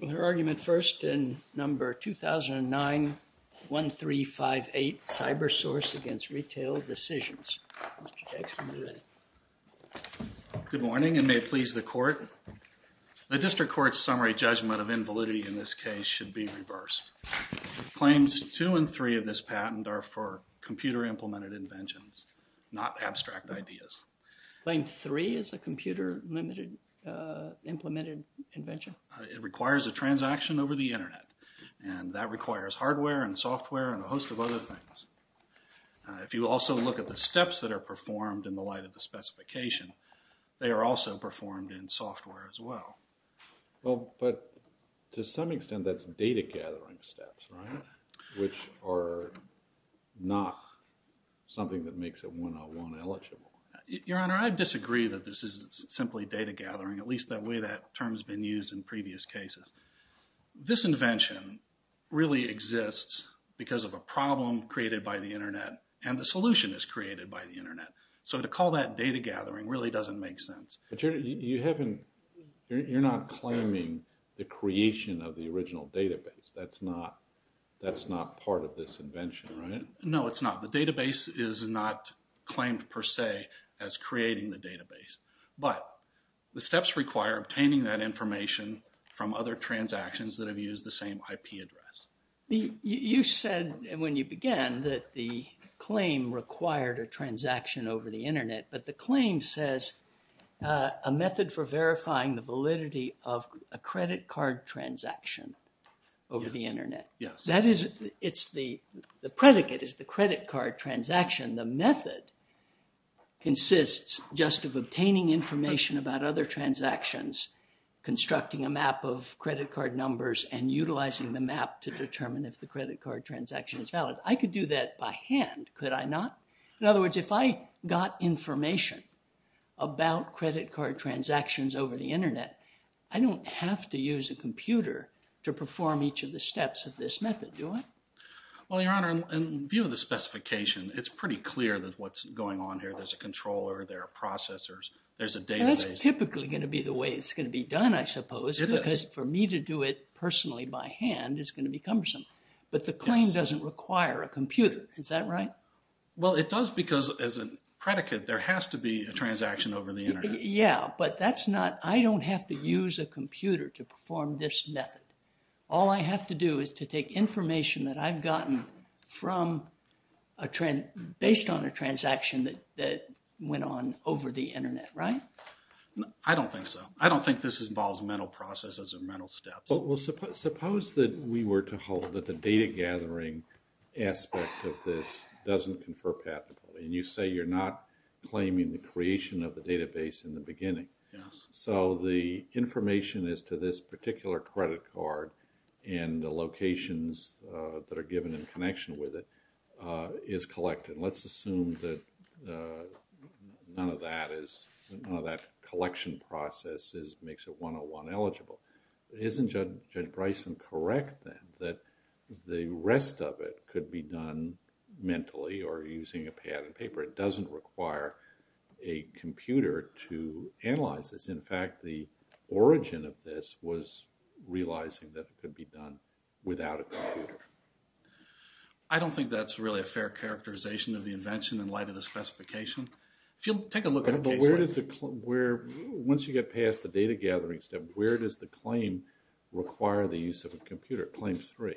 The District Court's summary judgment of invalidity in this case should be reversed. Claims 2 and 3 of this patent are for computer-implemented inventions, not abstract ideas. Claim 3 is a computer-implemented invention? It requires a transaction over the Internet, and that requires hardware and software and a host of other things. If you also look at the steps that are performed in the light of the specification, they are also performed in software as well. Well, but to some extent that's data-gathering steps, right? Which are not something that makes it 101 eligible. Your Honor, I disagree that this is simply data-gathering, at least the way that term has been used in previous cases. This invention really exists because of a problem created by the Internet, and the solution is created by the Internet. So to call that data-gathering really doesn't make sense. But you're not claiming the creation of the original database. That's not part of this invention, right? No, it's not. The database is not claimed per se as creating the database. But the steps require obtaining that information from other transactions that have used the same IP address. You said when you began that the claim required a transaction over the Internet, but the claim says a method for verifying the validity of a credit card transaction over the Internet. The predicate is the credit card transaction. The method consists just of obtaining information about other transactions, constructing a map of credit card numbers, and utilizing the map to determine if the credit card transaction is valid. I could do that by hand, could I not? In other words, if I got information about credit card transactions over the Internet, I don't have to use a computer to perform each of the steps of this method, do I? Well, Your Honor, in view of the specification, it's pretty clear that what's going on here, there's a controller, there are processors, there's a database. That's typically going to be the way it's going to be done, I suppose, because for me to do it personally by hand is going to be cumbersome. But the claim doesn't require a computer, is that right? Well, it does because as a predicate, there has to be a transaction over the Internet. Yeah, but I don't have to use a computer to perform this method. All I have to do is to take information that I've gotten based on a transaction that went on over the Internet, right? I don't think so. I don't think this involves mental processes or mental steps. Well, suppose that we were to hold that the data gathering aspect of this doesn't confer patentability, and you say you're not claiming the creation of the database in the beginning. Yes. So, the information as to this particular credit card and the locations that are given in connection with it is collected. Let's assume that none of that is, none of that collection process makes it 101 eligible. Isn't Judge Bryson correct, then, that the rest of it could be done mentally or using a patent paper? It doesn't require a computer to analyze this. In fact, the origin of this was realizing that it could be done without a computer. I don't think that's really a fair characterization of the invention in light of the specification. If you'll take a look at a case like… Once you get past the data gathering step, where does the claim require the use of a computer, Claim 3?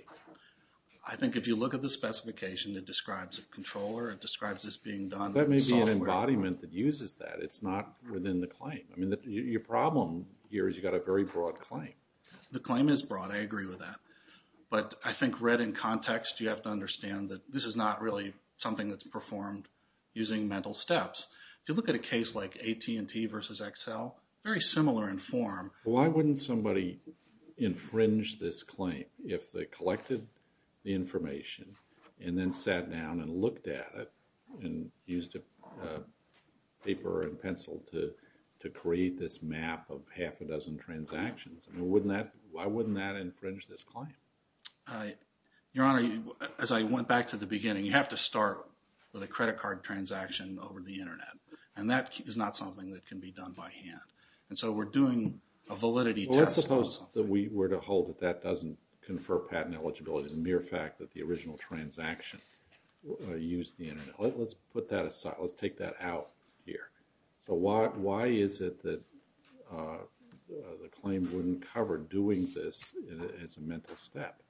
I think if you look at the specification, it describes a controller, it describes this being done… That may be an embodiment that uses that. It's not within the claim. I mean, your problem here is you've got a very broad claim. The claim is broad. I agree with that. But I think read in context, you have to understand that this is not really something that's performed using mental steps. If you look at a case like AT&T versus Excel, very similar in form. Why wouldn't somebody infringe this claim if they collected the information and then sat down and looked at it and used a paper and pencil to create this map of half a dozen transactions? Why wouldn't that infringe this claim? Your Honor, as I went back to the beginning, you have to start with a credit card transaction over the Internet. And that is not something that can be done by hand. And so we're doing a validity test. Well, let's suppose that we were to hold that that doesn't confer patent eligibility, the mere fact that the original transaction used the Internet. Let's put that aside. Let's take that out here. So why is it that the claim wouldn't cover doing this as a mental step?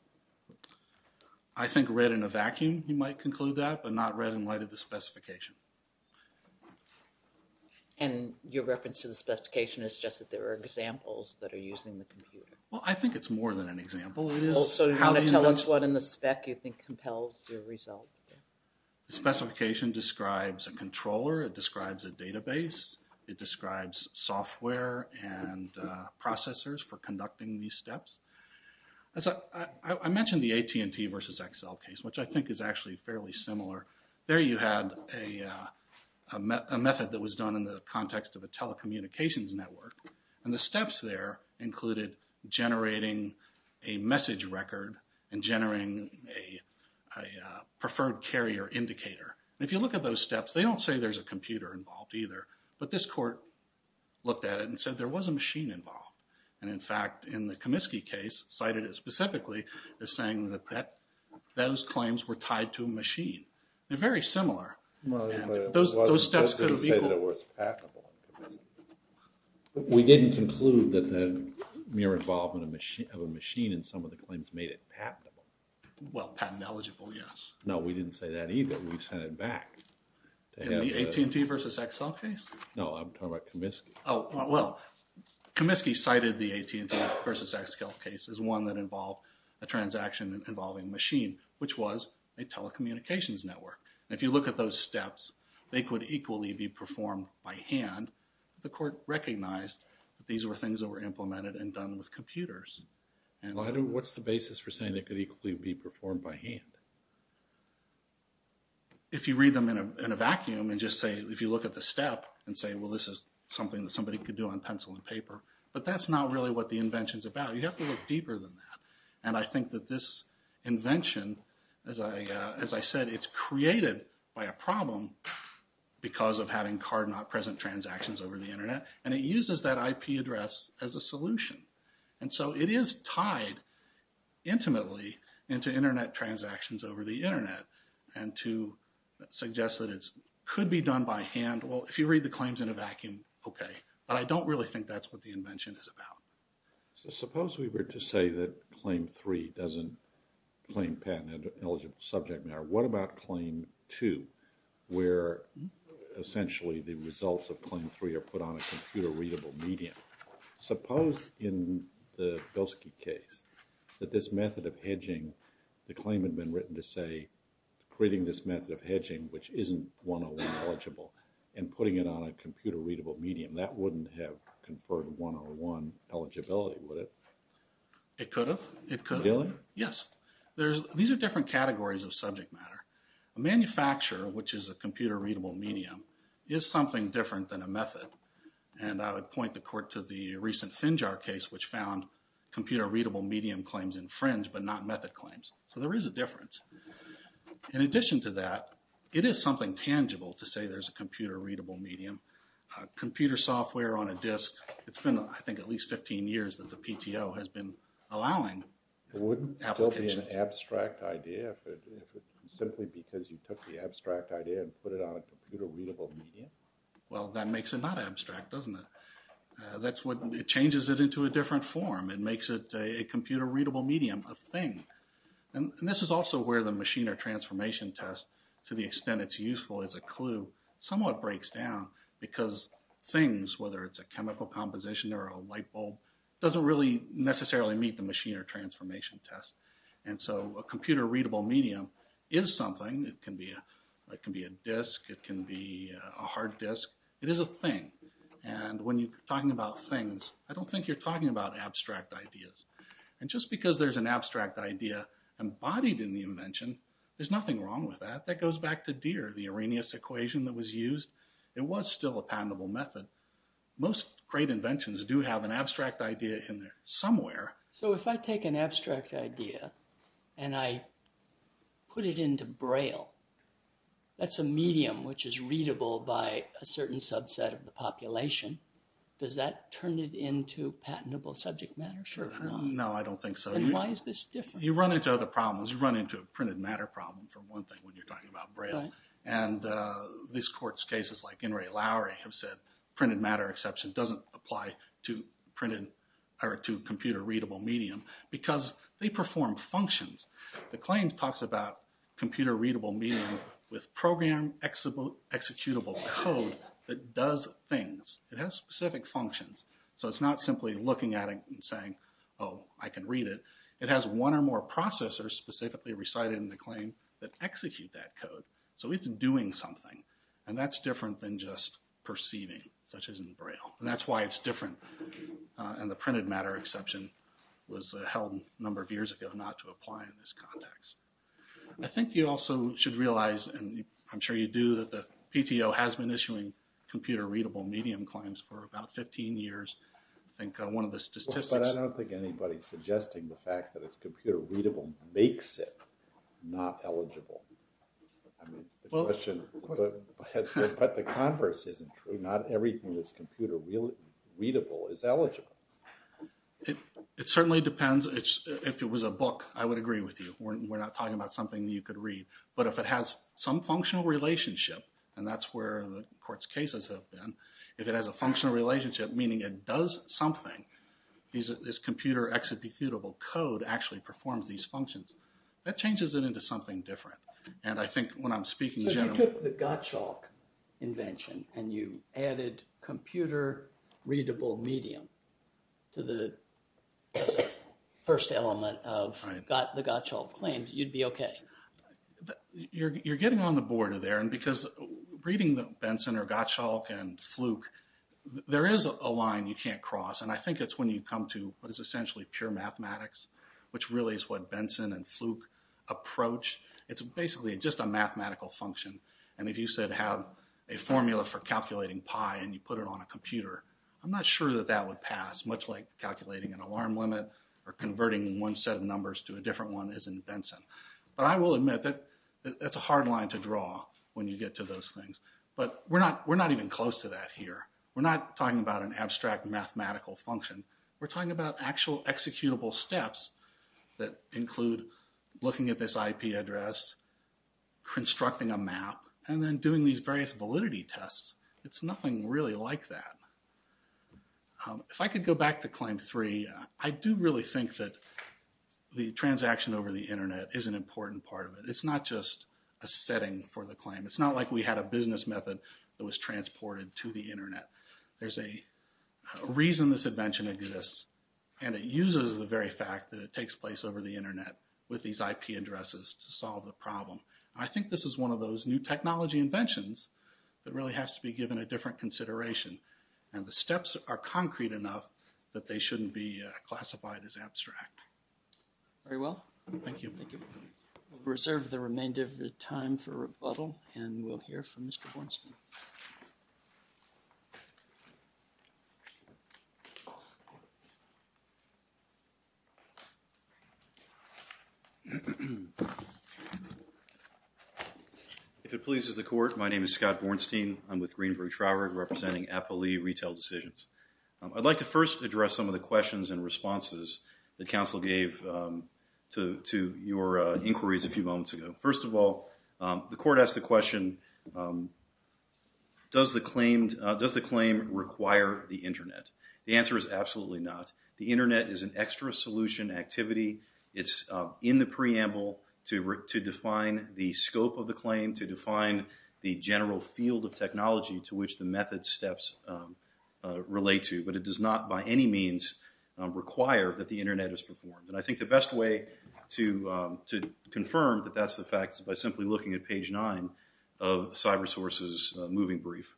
I think read in a vacuum, you might conclude that, but not read in light of the specification. And your reference to the specification is just that there are examples that are using the computer. Well, I think it's more than an example. So how to tell us what in the spec you think compels your result? The specification describes a controller. It describes a database. It describes software and processors for conducting these steps. I mentioned the AT&T versus Excel case, which I think is actually fairly similar. There you had a method that was done in the context of a telecommunications network. And the steps there included generating a message record and generating a preferred carrier indicator. And if you look at those steps, they don't say there's a computer involved either. But this court looked at it and said there was a machine involved. And, in fact, in the Comiskey case, cited specifically as saying that those claims were tied to a machine. They're very similar. Those steps couldn't be equal. We didn't conclude that the mere involvement of a machine in some of the claims made it patentable. Well, patent eligible, yes. No, we didn't say that either. We sent it back. AT&T versus Excel case? No, I'm talking about Comiskey. Well, Comiskey cited the AT&T versus Excel case as one that involved a transaction involving machine, which was a telecommunications network. And if you look at those steps, they could equally be performed by hand. The court recognized that these were things that were implemented and done with computers. What's the basis for saying they could equally be performed by hand? If you read them in a vacuum and just say, if you look at the step and say, well, this is something that somebody could do on pencil and paper. But that's not really what the invention's about. You have to look deeper than that. And I think that this invention, as I said, it's created by a problem because of having card-not-present transactions over the Internet. And it uses that IP address as a solution. And so it is tied intimately into Internet transactions over the Internet. And to suggest that it could be done by hand, well, if you read the claims in a vacuum, okay. But I don't really think that's what the invention is about. So suppose we were to say that Claim 3 doesn't claim patent-eligible subject matter. What about Claim 2, where essentially the results of Claim 3 are put on a computer-readable medium? Suppose in the Bilski case that this method of hedging, the claim had been written to say, creating this method of hedging, which isn't 101 eligible, and putting it on a computer-readable medium. That wouldn't have conferred 101 eligibility, would it? It could have. It could have. Really? Yes. These are different categories of subject matter. A manufacturer, which is a computer-readable medium, is something different than a method. And I would point the court to the recent Finjar case, which found computer-readable medium claims infringe, but not method claims. So there is a difference. In addition to that, it is something tangible to say there's a computer-readable medium. Computer software on a disk. It's been, I think, at least 15 years that the PTO has been allowing applications. Wouldn't it still be an abstract idea if it was simply because you took the abstract idea and put it on a computer-readable medium? Well, that makes it not abstract, doesn't it? That's what changes it into a different form. It makes it a computer-readable medium, a thing. And this is also where the machine or transformation test, to the extent it's useful as a clue, somewhat breaks down because things, whether it's a chemical composition or a light bulb, doesn't really necessarily meet the machine or transformation test. And so a computer-readable medium is something. It can be a disk. It can be a hard disk. It is a thing. And when you're talking about things, I don't think you're talking about abstract ideas. And just because there's an abstract idea embodied in the invention, there's nothing wrong with that. That goes back to Deere, the Arrhenius equation that was used. It was still a patentable method. Most great inventions do have an abstract idea in there somewhere. So if I take an abstract idea and I put it into Braille, that's a medium which is readable by a certain subset of the population. Does that turn it into patentable subject matter? No, I don't think so. And why is this different? You run into other problems. You run into a printed matter problem, for one thing, when you're talking about Braille. And these courts' cases, like In re Lowry, have said printed matter exception doesn't apply to computer-readable medium because they perform functions. The claim talks about computer-readable medium with program-executable code that does things. It has specific functions. So it's not simply looking at it and saying, oh, I can read it. It has one or more processors specifically recited in the claim that execute that code. So it's doing something. And that's different than just perceiving, such as in Braille. And that's why it's different. And the printed matter exception was held a number of years ago not to apply in this context. I think you also should realize, and I'm sure you do, that the PTO has been issuing computer-readable medium claims for about 15 years. But I don't think anybody's suggesting the fact that it's computer-readable makes it not eligible. But the converse isn't true. Not everything that's computer-readable is eligible. It certainly depends. If it was a book, I would agree with you. We're not talking about something that you could read. But if it has some functional relationship, and that's where the court's cases have been, if it has a functional relationship, meaning it does something, this computer-executable code actually performs these functions, that changes it into something different. And I think when I'm speaking generally... So if you took the Gottschalk invention and you added computer-readable medium to the first element of the Gottschalk claims, you'd be okay? You're getting on the border there. And because reading Benson or Gottschalk and Fluke, there is a line you can't cross. And I think it's when you come to what is essentially pure mathematics, which really is what Benson and Fluke approach. It's basically just a mathematical function. And if you said have a formula for calculating pi and you put it on a computer, I'm not sure that that would pass, much like calculating an alarm limit But I will admit that that's a hard line to draw when you get to those things. But we're not even close to that here. We're not talking about an abstract mathematical function. We're talking about actual executable steps that include looking at this IP address, constructing a map, and then doing these various validity tests. It's nothing really like that. If I could go back to Claim 3, I do really think that the transaction over the Internet is an important part of it. It's not just a setting for the claim. It's not like we had a business method that was transported to the Internet. There's a reason this invention exists, and it uses the very fact that it takes place over the Internet with these IP addresses to solve the problem. I think this is one of those new technology inventions that really has to be given a different consideration. The steps are concrete enough that they shouldn't be classified as abstract. Very well. Thank you. We'll reserve the remainder of the time for rebuttal, and we'll hear from Mr. Bornstein. If it pleases the Court, my name is Scott Bornstein. I'm with Greenberg Traurig, representing Applee Retail Decisions. I'd like to first address some of the questions and responses that counsel gave to your inquiries a few moments ago. First of all, the Court asked the question, does the claim require the Internet? The answer is absolutely not. The Internet is an extra solution activity. It's in the preamble to define the scope of the claim, to define the general field of technology to which the method steps relate to. But it does not by any means require that the Internet is performed. And I think the best way to confirm that that's the fact is by simply looking at page 9 of CyberSource's moving brief.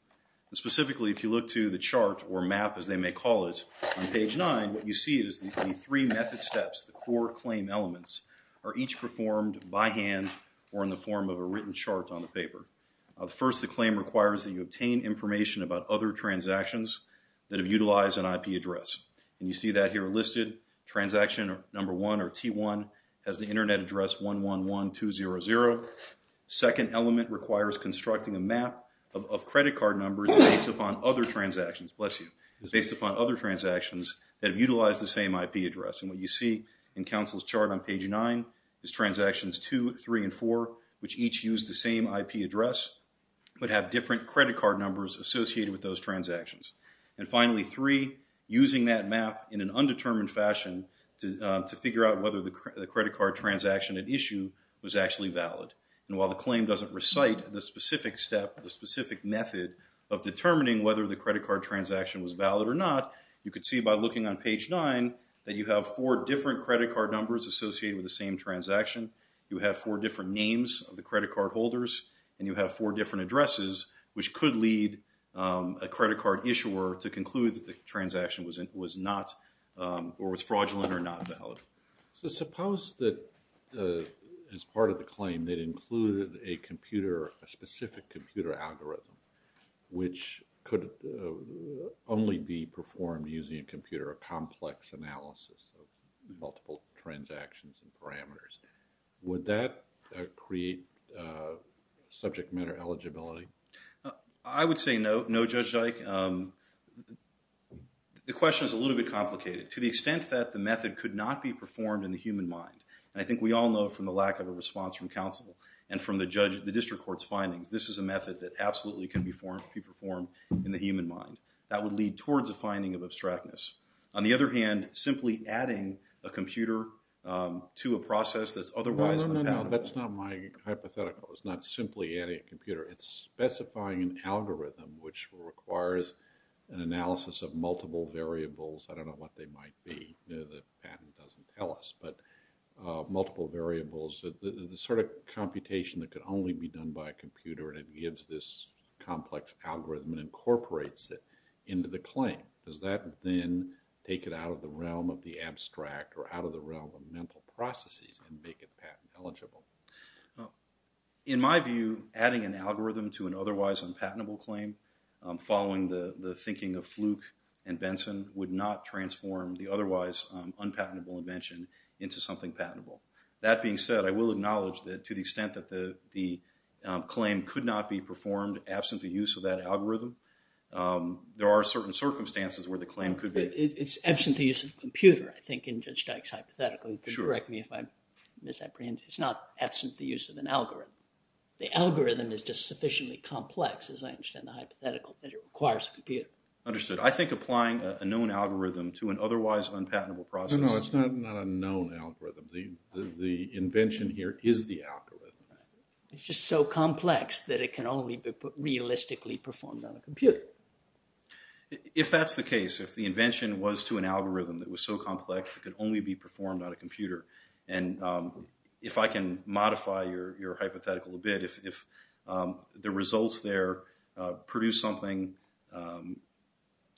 Specifically, if you look to the chart, or map as they may call it, on page 9, what you see is the three method steps, the core claim elements, are each performed by hand or in the form of a written chart on the paper. First, the claim requires that you obtain information about other transactions that have utilized an IP address. And you see that here listed. Transaction number 1, or T1, has the Internet address 111200. Second element requires constructing a map of credit card numbers based upon other transactions, bless you, based upon other transactions that have utilized the same IP address. And what you see in Council's chart on page 9 is transactions 2, 3, and 4, which each use the same IP address, but have different credit card numbers associated with those transactions. And finally, 3, using that map in an undetermined fashion to figure out whether the credit card transaction at issue was actually valid. And while the claim doesn't recite the specific step, the specific method of determining whether the credit card transaction was valid or not, you could see by looking on page 9 that you have four different credit card numbers associated with the same transaction, you have four different names of the credit card holders, and you have four different addresses, which could lead a credit card issuer to conclude that the transaction was not, or was fraudulent or not valid. So suppose that, as part of the claim, that included a computer, a specific computer algorithm, which could only be performed using a computer, a complex analysis of multiple transactions and parameters. Would that create subject matter eligibility? I would say no, Judge Dyke. The question is a little bit complicated. To the extent that the method could not be performed in the human mind, and I think we all know from the lack of a response from Council and from the district court's findings, this is a method that absolutely can be performed in the human mind. That would lead towards a finding of abstractness. On the other hand, simply adding a computer to a process that's otherwise… No, no, no, that's not my hypothetical. It's not simply adding a computer. It's specifying an algorithm which requires an analysis of multiple variables. I don't know what they might be. The patent doesn't tell us, but multiple variables, the sort of computation that could only be done by a computer and it gives this complex algorithm and incorporates it into the claim. Does that then take it out of the realm of the abstract or out of the realm of mental processes and make it patent eligible? In my view, adding an algorithm to an otherwise unpatentable claim, following the thinking of Fluke and Benson, would not transform the otherwise unpatentable invention into something patentable. That being said, I will acknowledge that to the extent that the claim could not be performed absent the use of that algorithm, there are certain circumstances where the claim could be… It's absent the use of a computer, I think, in Judge Dyke's hypothetical. You can correct me if I'm misapprehending. It's not absent the use of an algorithm. The algorithm is just sufficiently complex, as I understand the hypothetical, that it requires a computer. Understood. I think applying a known algorithm to an otherwise unpatentable process… No, no, it's not a known algorithm. The invention here is the algorithm. It's just so complex that it can only be realistically performed on a computer. If that's the case, if the invention was to an algorithm that was so complex it could only be performed on a computer, and if I can modify your hypothetical a bit, if the results there produce something…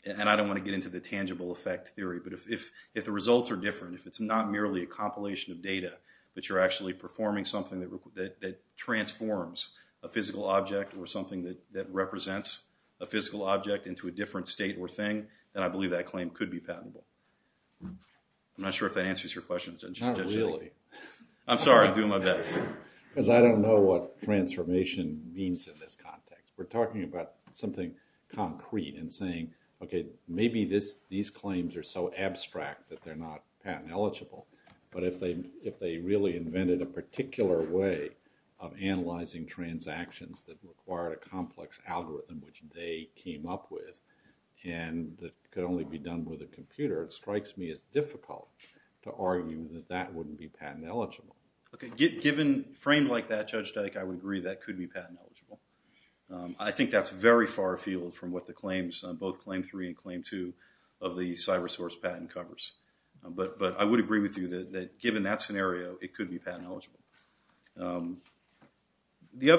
And I don't want to get into the tangible effect theory, but if the results are different, if it's not merely a compilation of data, but you're actually performing something that transforms a physical object or something that represents a physical object into a different state or thing, then I believe that claim could be patentable. I'm not sure if that answers your question, Judge Dyke. Not really. I'm sorry. I'm doing my best. Because I don't know what transformation means in this context. We're talking about something concrete and saying, okay, maybe these claims are so abstract that they're not patent-eligible, but if they really invented a particular way of analyzing transactions that required a complex algorithm which they came up with and that could only be done with a computer, it strikes me as difficult to argue that that wouldn't be patent-eligible. Given a frame like that, Judge Dyke, I would agree that could be patent-eligible. I think that's very far afield from what the claims, both Claim 3 and Claim 2 of the CyResource patent covers. But I would agree with you that given that scenario, it could be patent-eligible. The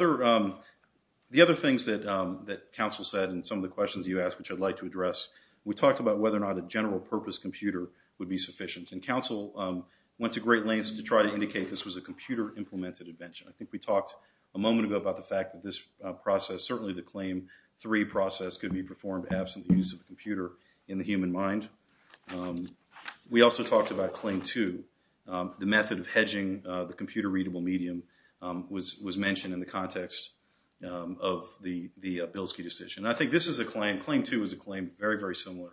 other things that counsel said and some of the questions you asked, which I'd like to address, we talked about whether or not a general-purpose computer would be sufficient, and counsel went to great lengths to try to indicate this was a computer-implemented invention. I think we talked a moment ago about the fact that this process, certainly the Claim 3 process, could be performed absent the use of a computer in the human mind. We also talked about Claim 2, the method of hedging the computer-readable medium was mentioned in the context of the Bilski decision. I think this is a claim, Claim 2 is a claim very, very similar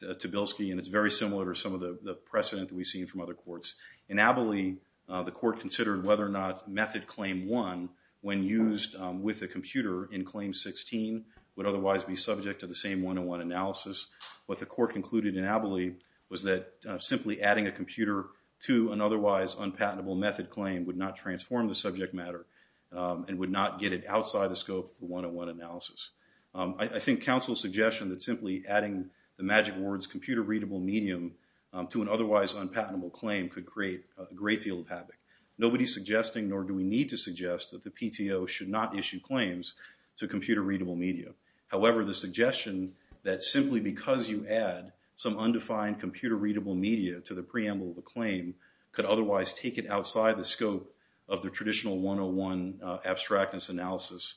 to Bilski, and it's very similar to some of the precedent that we've seen from other courts. In Abiley, the court considered whether or not method Claim 1, when used with a computer in Claim 16, would otherwise be subject to the same one-on-one analysis. What the court concluded in Abiley was that simply adding a computer to an otherwise unpatentable method claim would not transform the subject matter and would not get it outside the scope of the one-on-one analysis. I think counsel's suggestion that simply adding the magic words computer-readable medium to an otherwise unpatentable claim could create a great deal of havoc. Nobody's suggesting, nor do we need to suggest, that the PTO should not issue claims to computer-readable media. However, the suggestion that simply because you add some undefined computer-readable media to the preamble of a claim could otherwise take it outside the scope of the traditional one-on-one abstractness analysis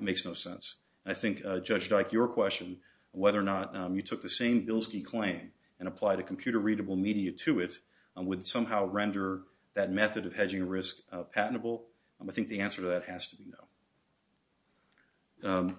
makes no sense. And I think, Judge Dyke, your question, whether or not you took the same Bilski claim and applied a computer-readable media to it would somehow render that method of hedging a risk patentable. I think the answer to that has to be no.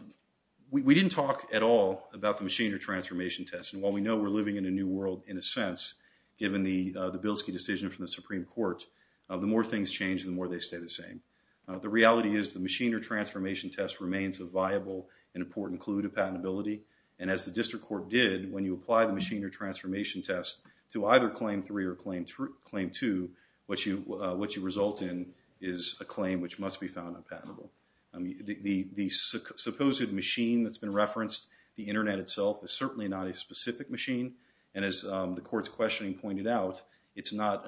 We didn't talk at all about the machinery transformation test. And while we know we're living in a new world, in a sense, given the Bilski decision from the Supreme Court, the more things change, the more they stay the same. The reality is the machinery transformation test remains a viable and important clue to patentability. And as the District Court did, when you apply the machinery transformation test to either Claim 3 or Claim 2, what you result in is a claim which must be found unpatentable. The supposed machine that's been referenced, the Internet itself, is certainly not a specific machine. And as the Court's questioning pointed out, it's not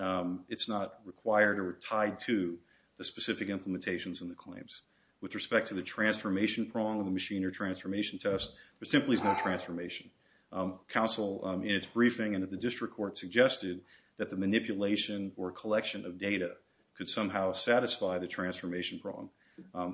required or tied to the specific implementations in the claims. With respect to the transformation prong of the machinery transformation test, there simply is no transformation. Counsel in its briefing and at the District Court suggested that the manipulation or collection of data could somehow satisfy the transformation prong.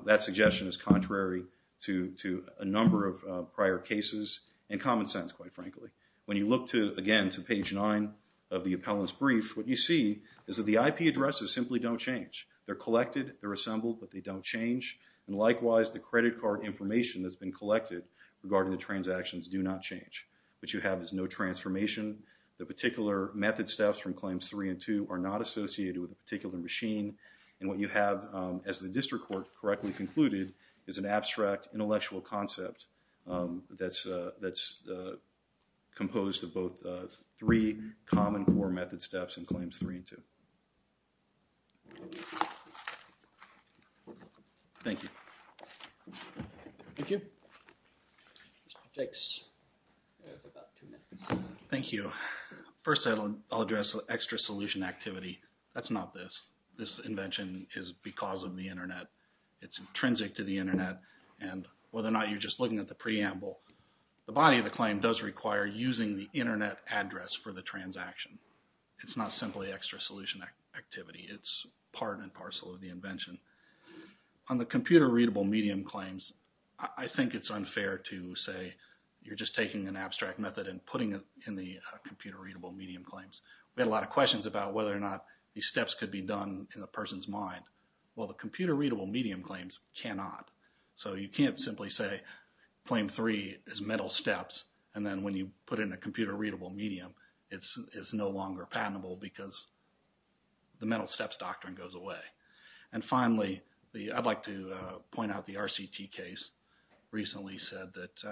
That suggestion is contrary to a number of prior cases and common sense, quite frankly. When you look, again, to page 9 of the appellant's brief, what you see is that the IP addresses simply don't change. They're collected, they're assembled, but they don't change. And likewise, the credit card information that's been collected regarding the transactions do not change. What you have is no transformation. The particular method steps from Claims 3 and 2 are not associated with a particular machine. And what you have, as the District Court correctly concluded, is an abstract intellectual concept that's composed of both three common core method steps in Claims 3 and 2. Thank you. Thank you. First, I'll address extra solution activity. That's not this. This invention is because of the Internet. It's intrinsic to the Internet, and whether or not you're just looking at the preamble, the body of the claim does require using the Internet address for the transaction. It's not simply extra solution activity. It's part and parcel of the invention. On the computer-readable medium claims, I think it's unfair to say you're just taking an abstract method and putting it in the computer-readable medium claims. We had a lot of questions about whether or not these steps could be done in the person's mind. Well, the computer-readable medium claims cannot. So you can't simply say Claim 3 is metal steps, and then when you put it in a computer-readable medium, it's no longer patentable because the metal steps doctrine goes away. And finally, I'd like to point out the RCT case recently said that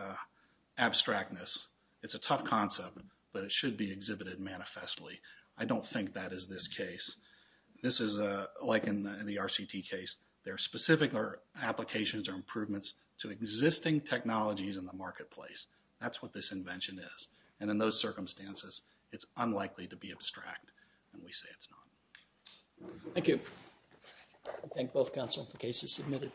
abstractness, it's a tough concept, but it should be exhibited manifestly. I don't think that is this case. This is like in the RCT case. There are specific applications or improvements to existing technologies in the marketplace. That's what this invention is. And in those circumstances, it's unlikely to be abstract, and we say it's not. Thank you. I thank both counsel for cases submitted.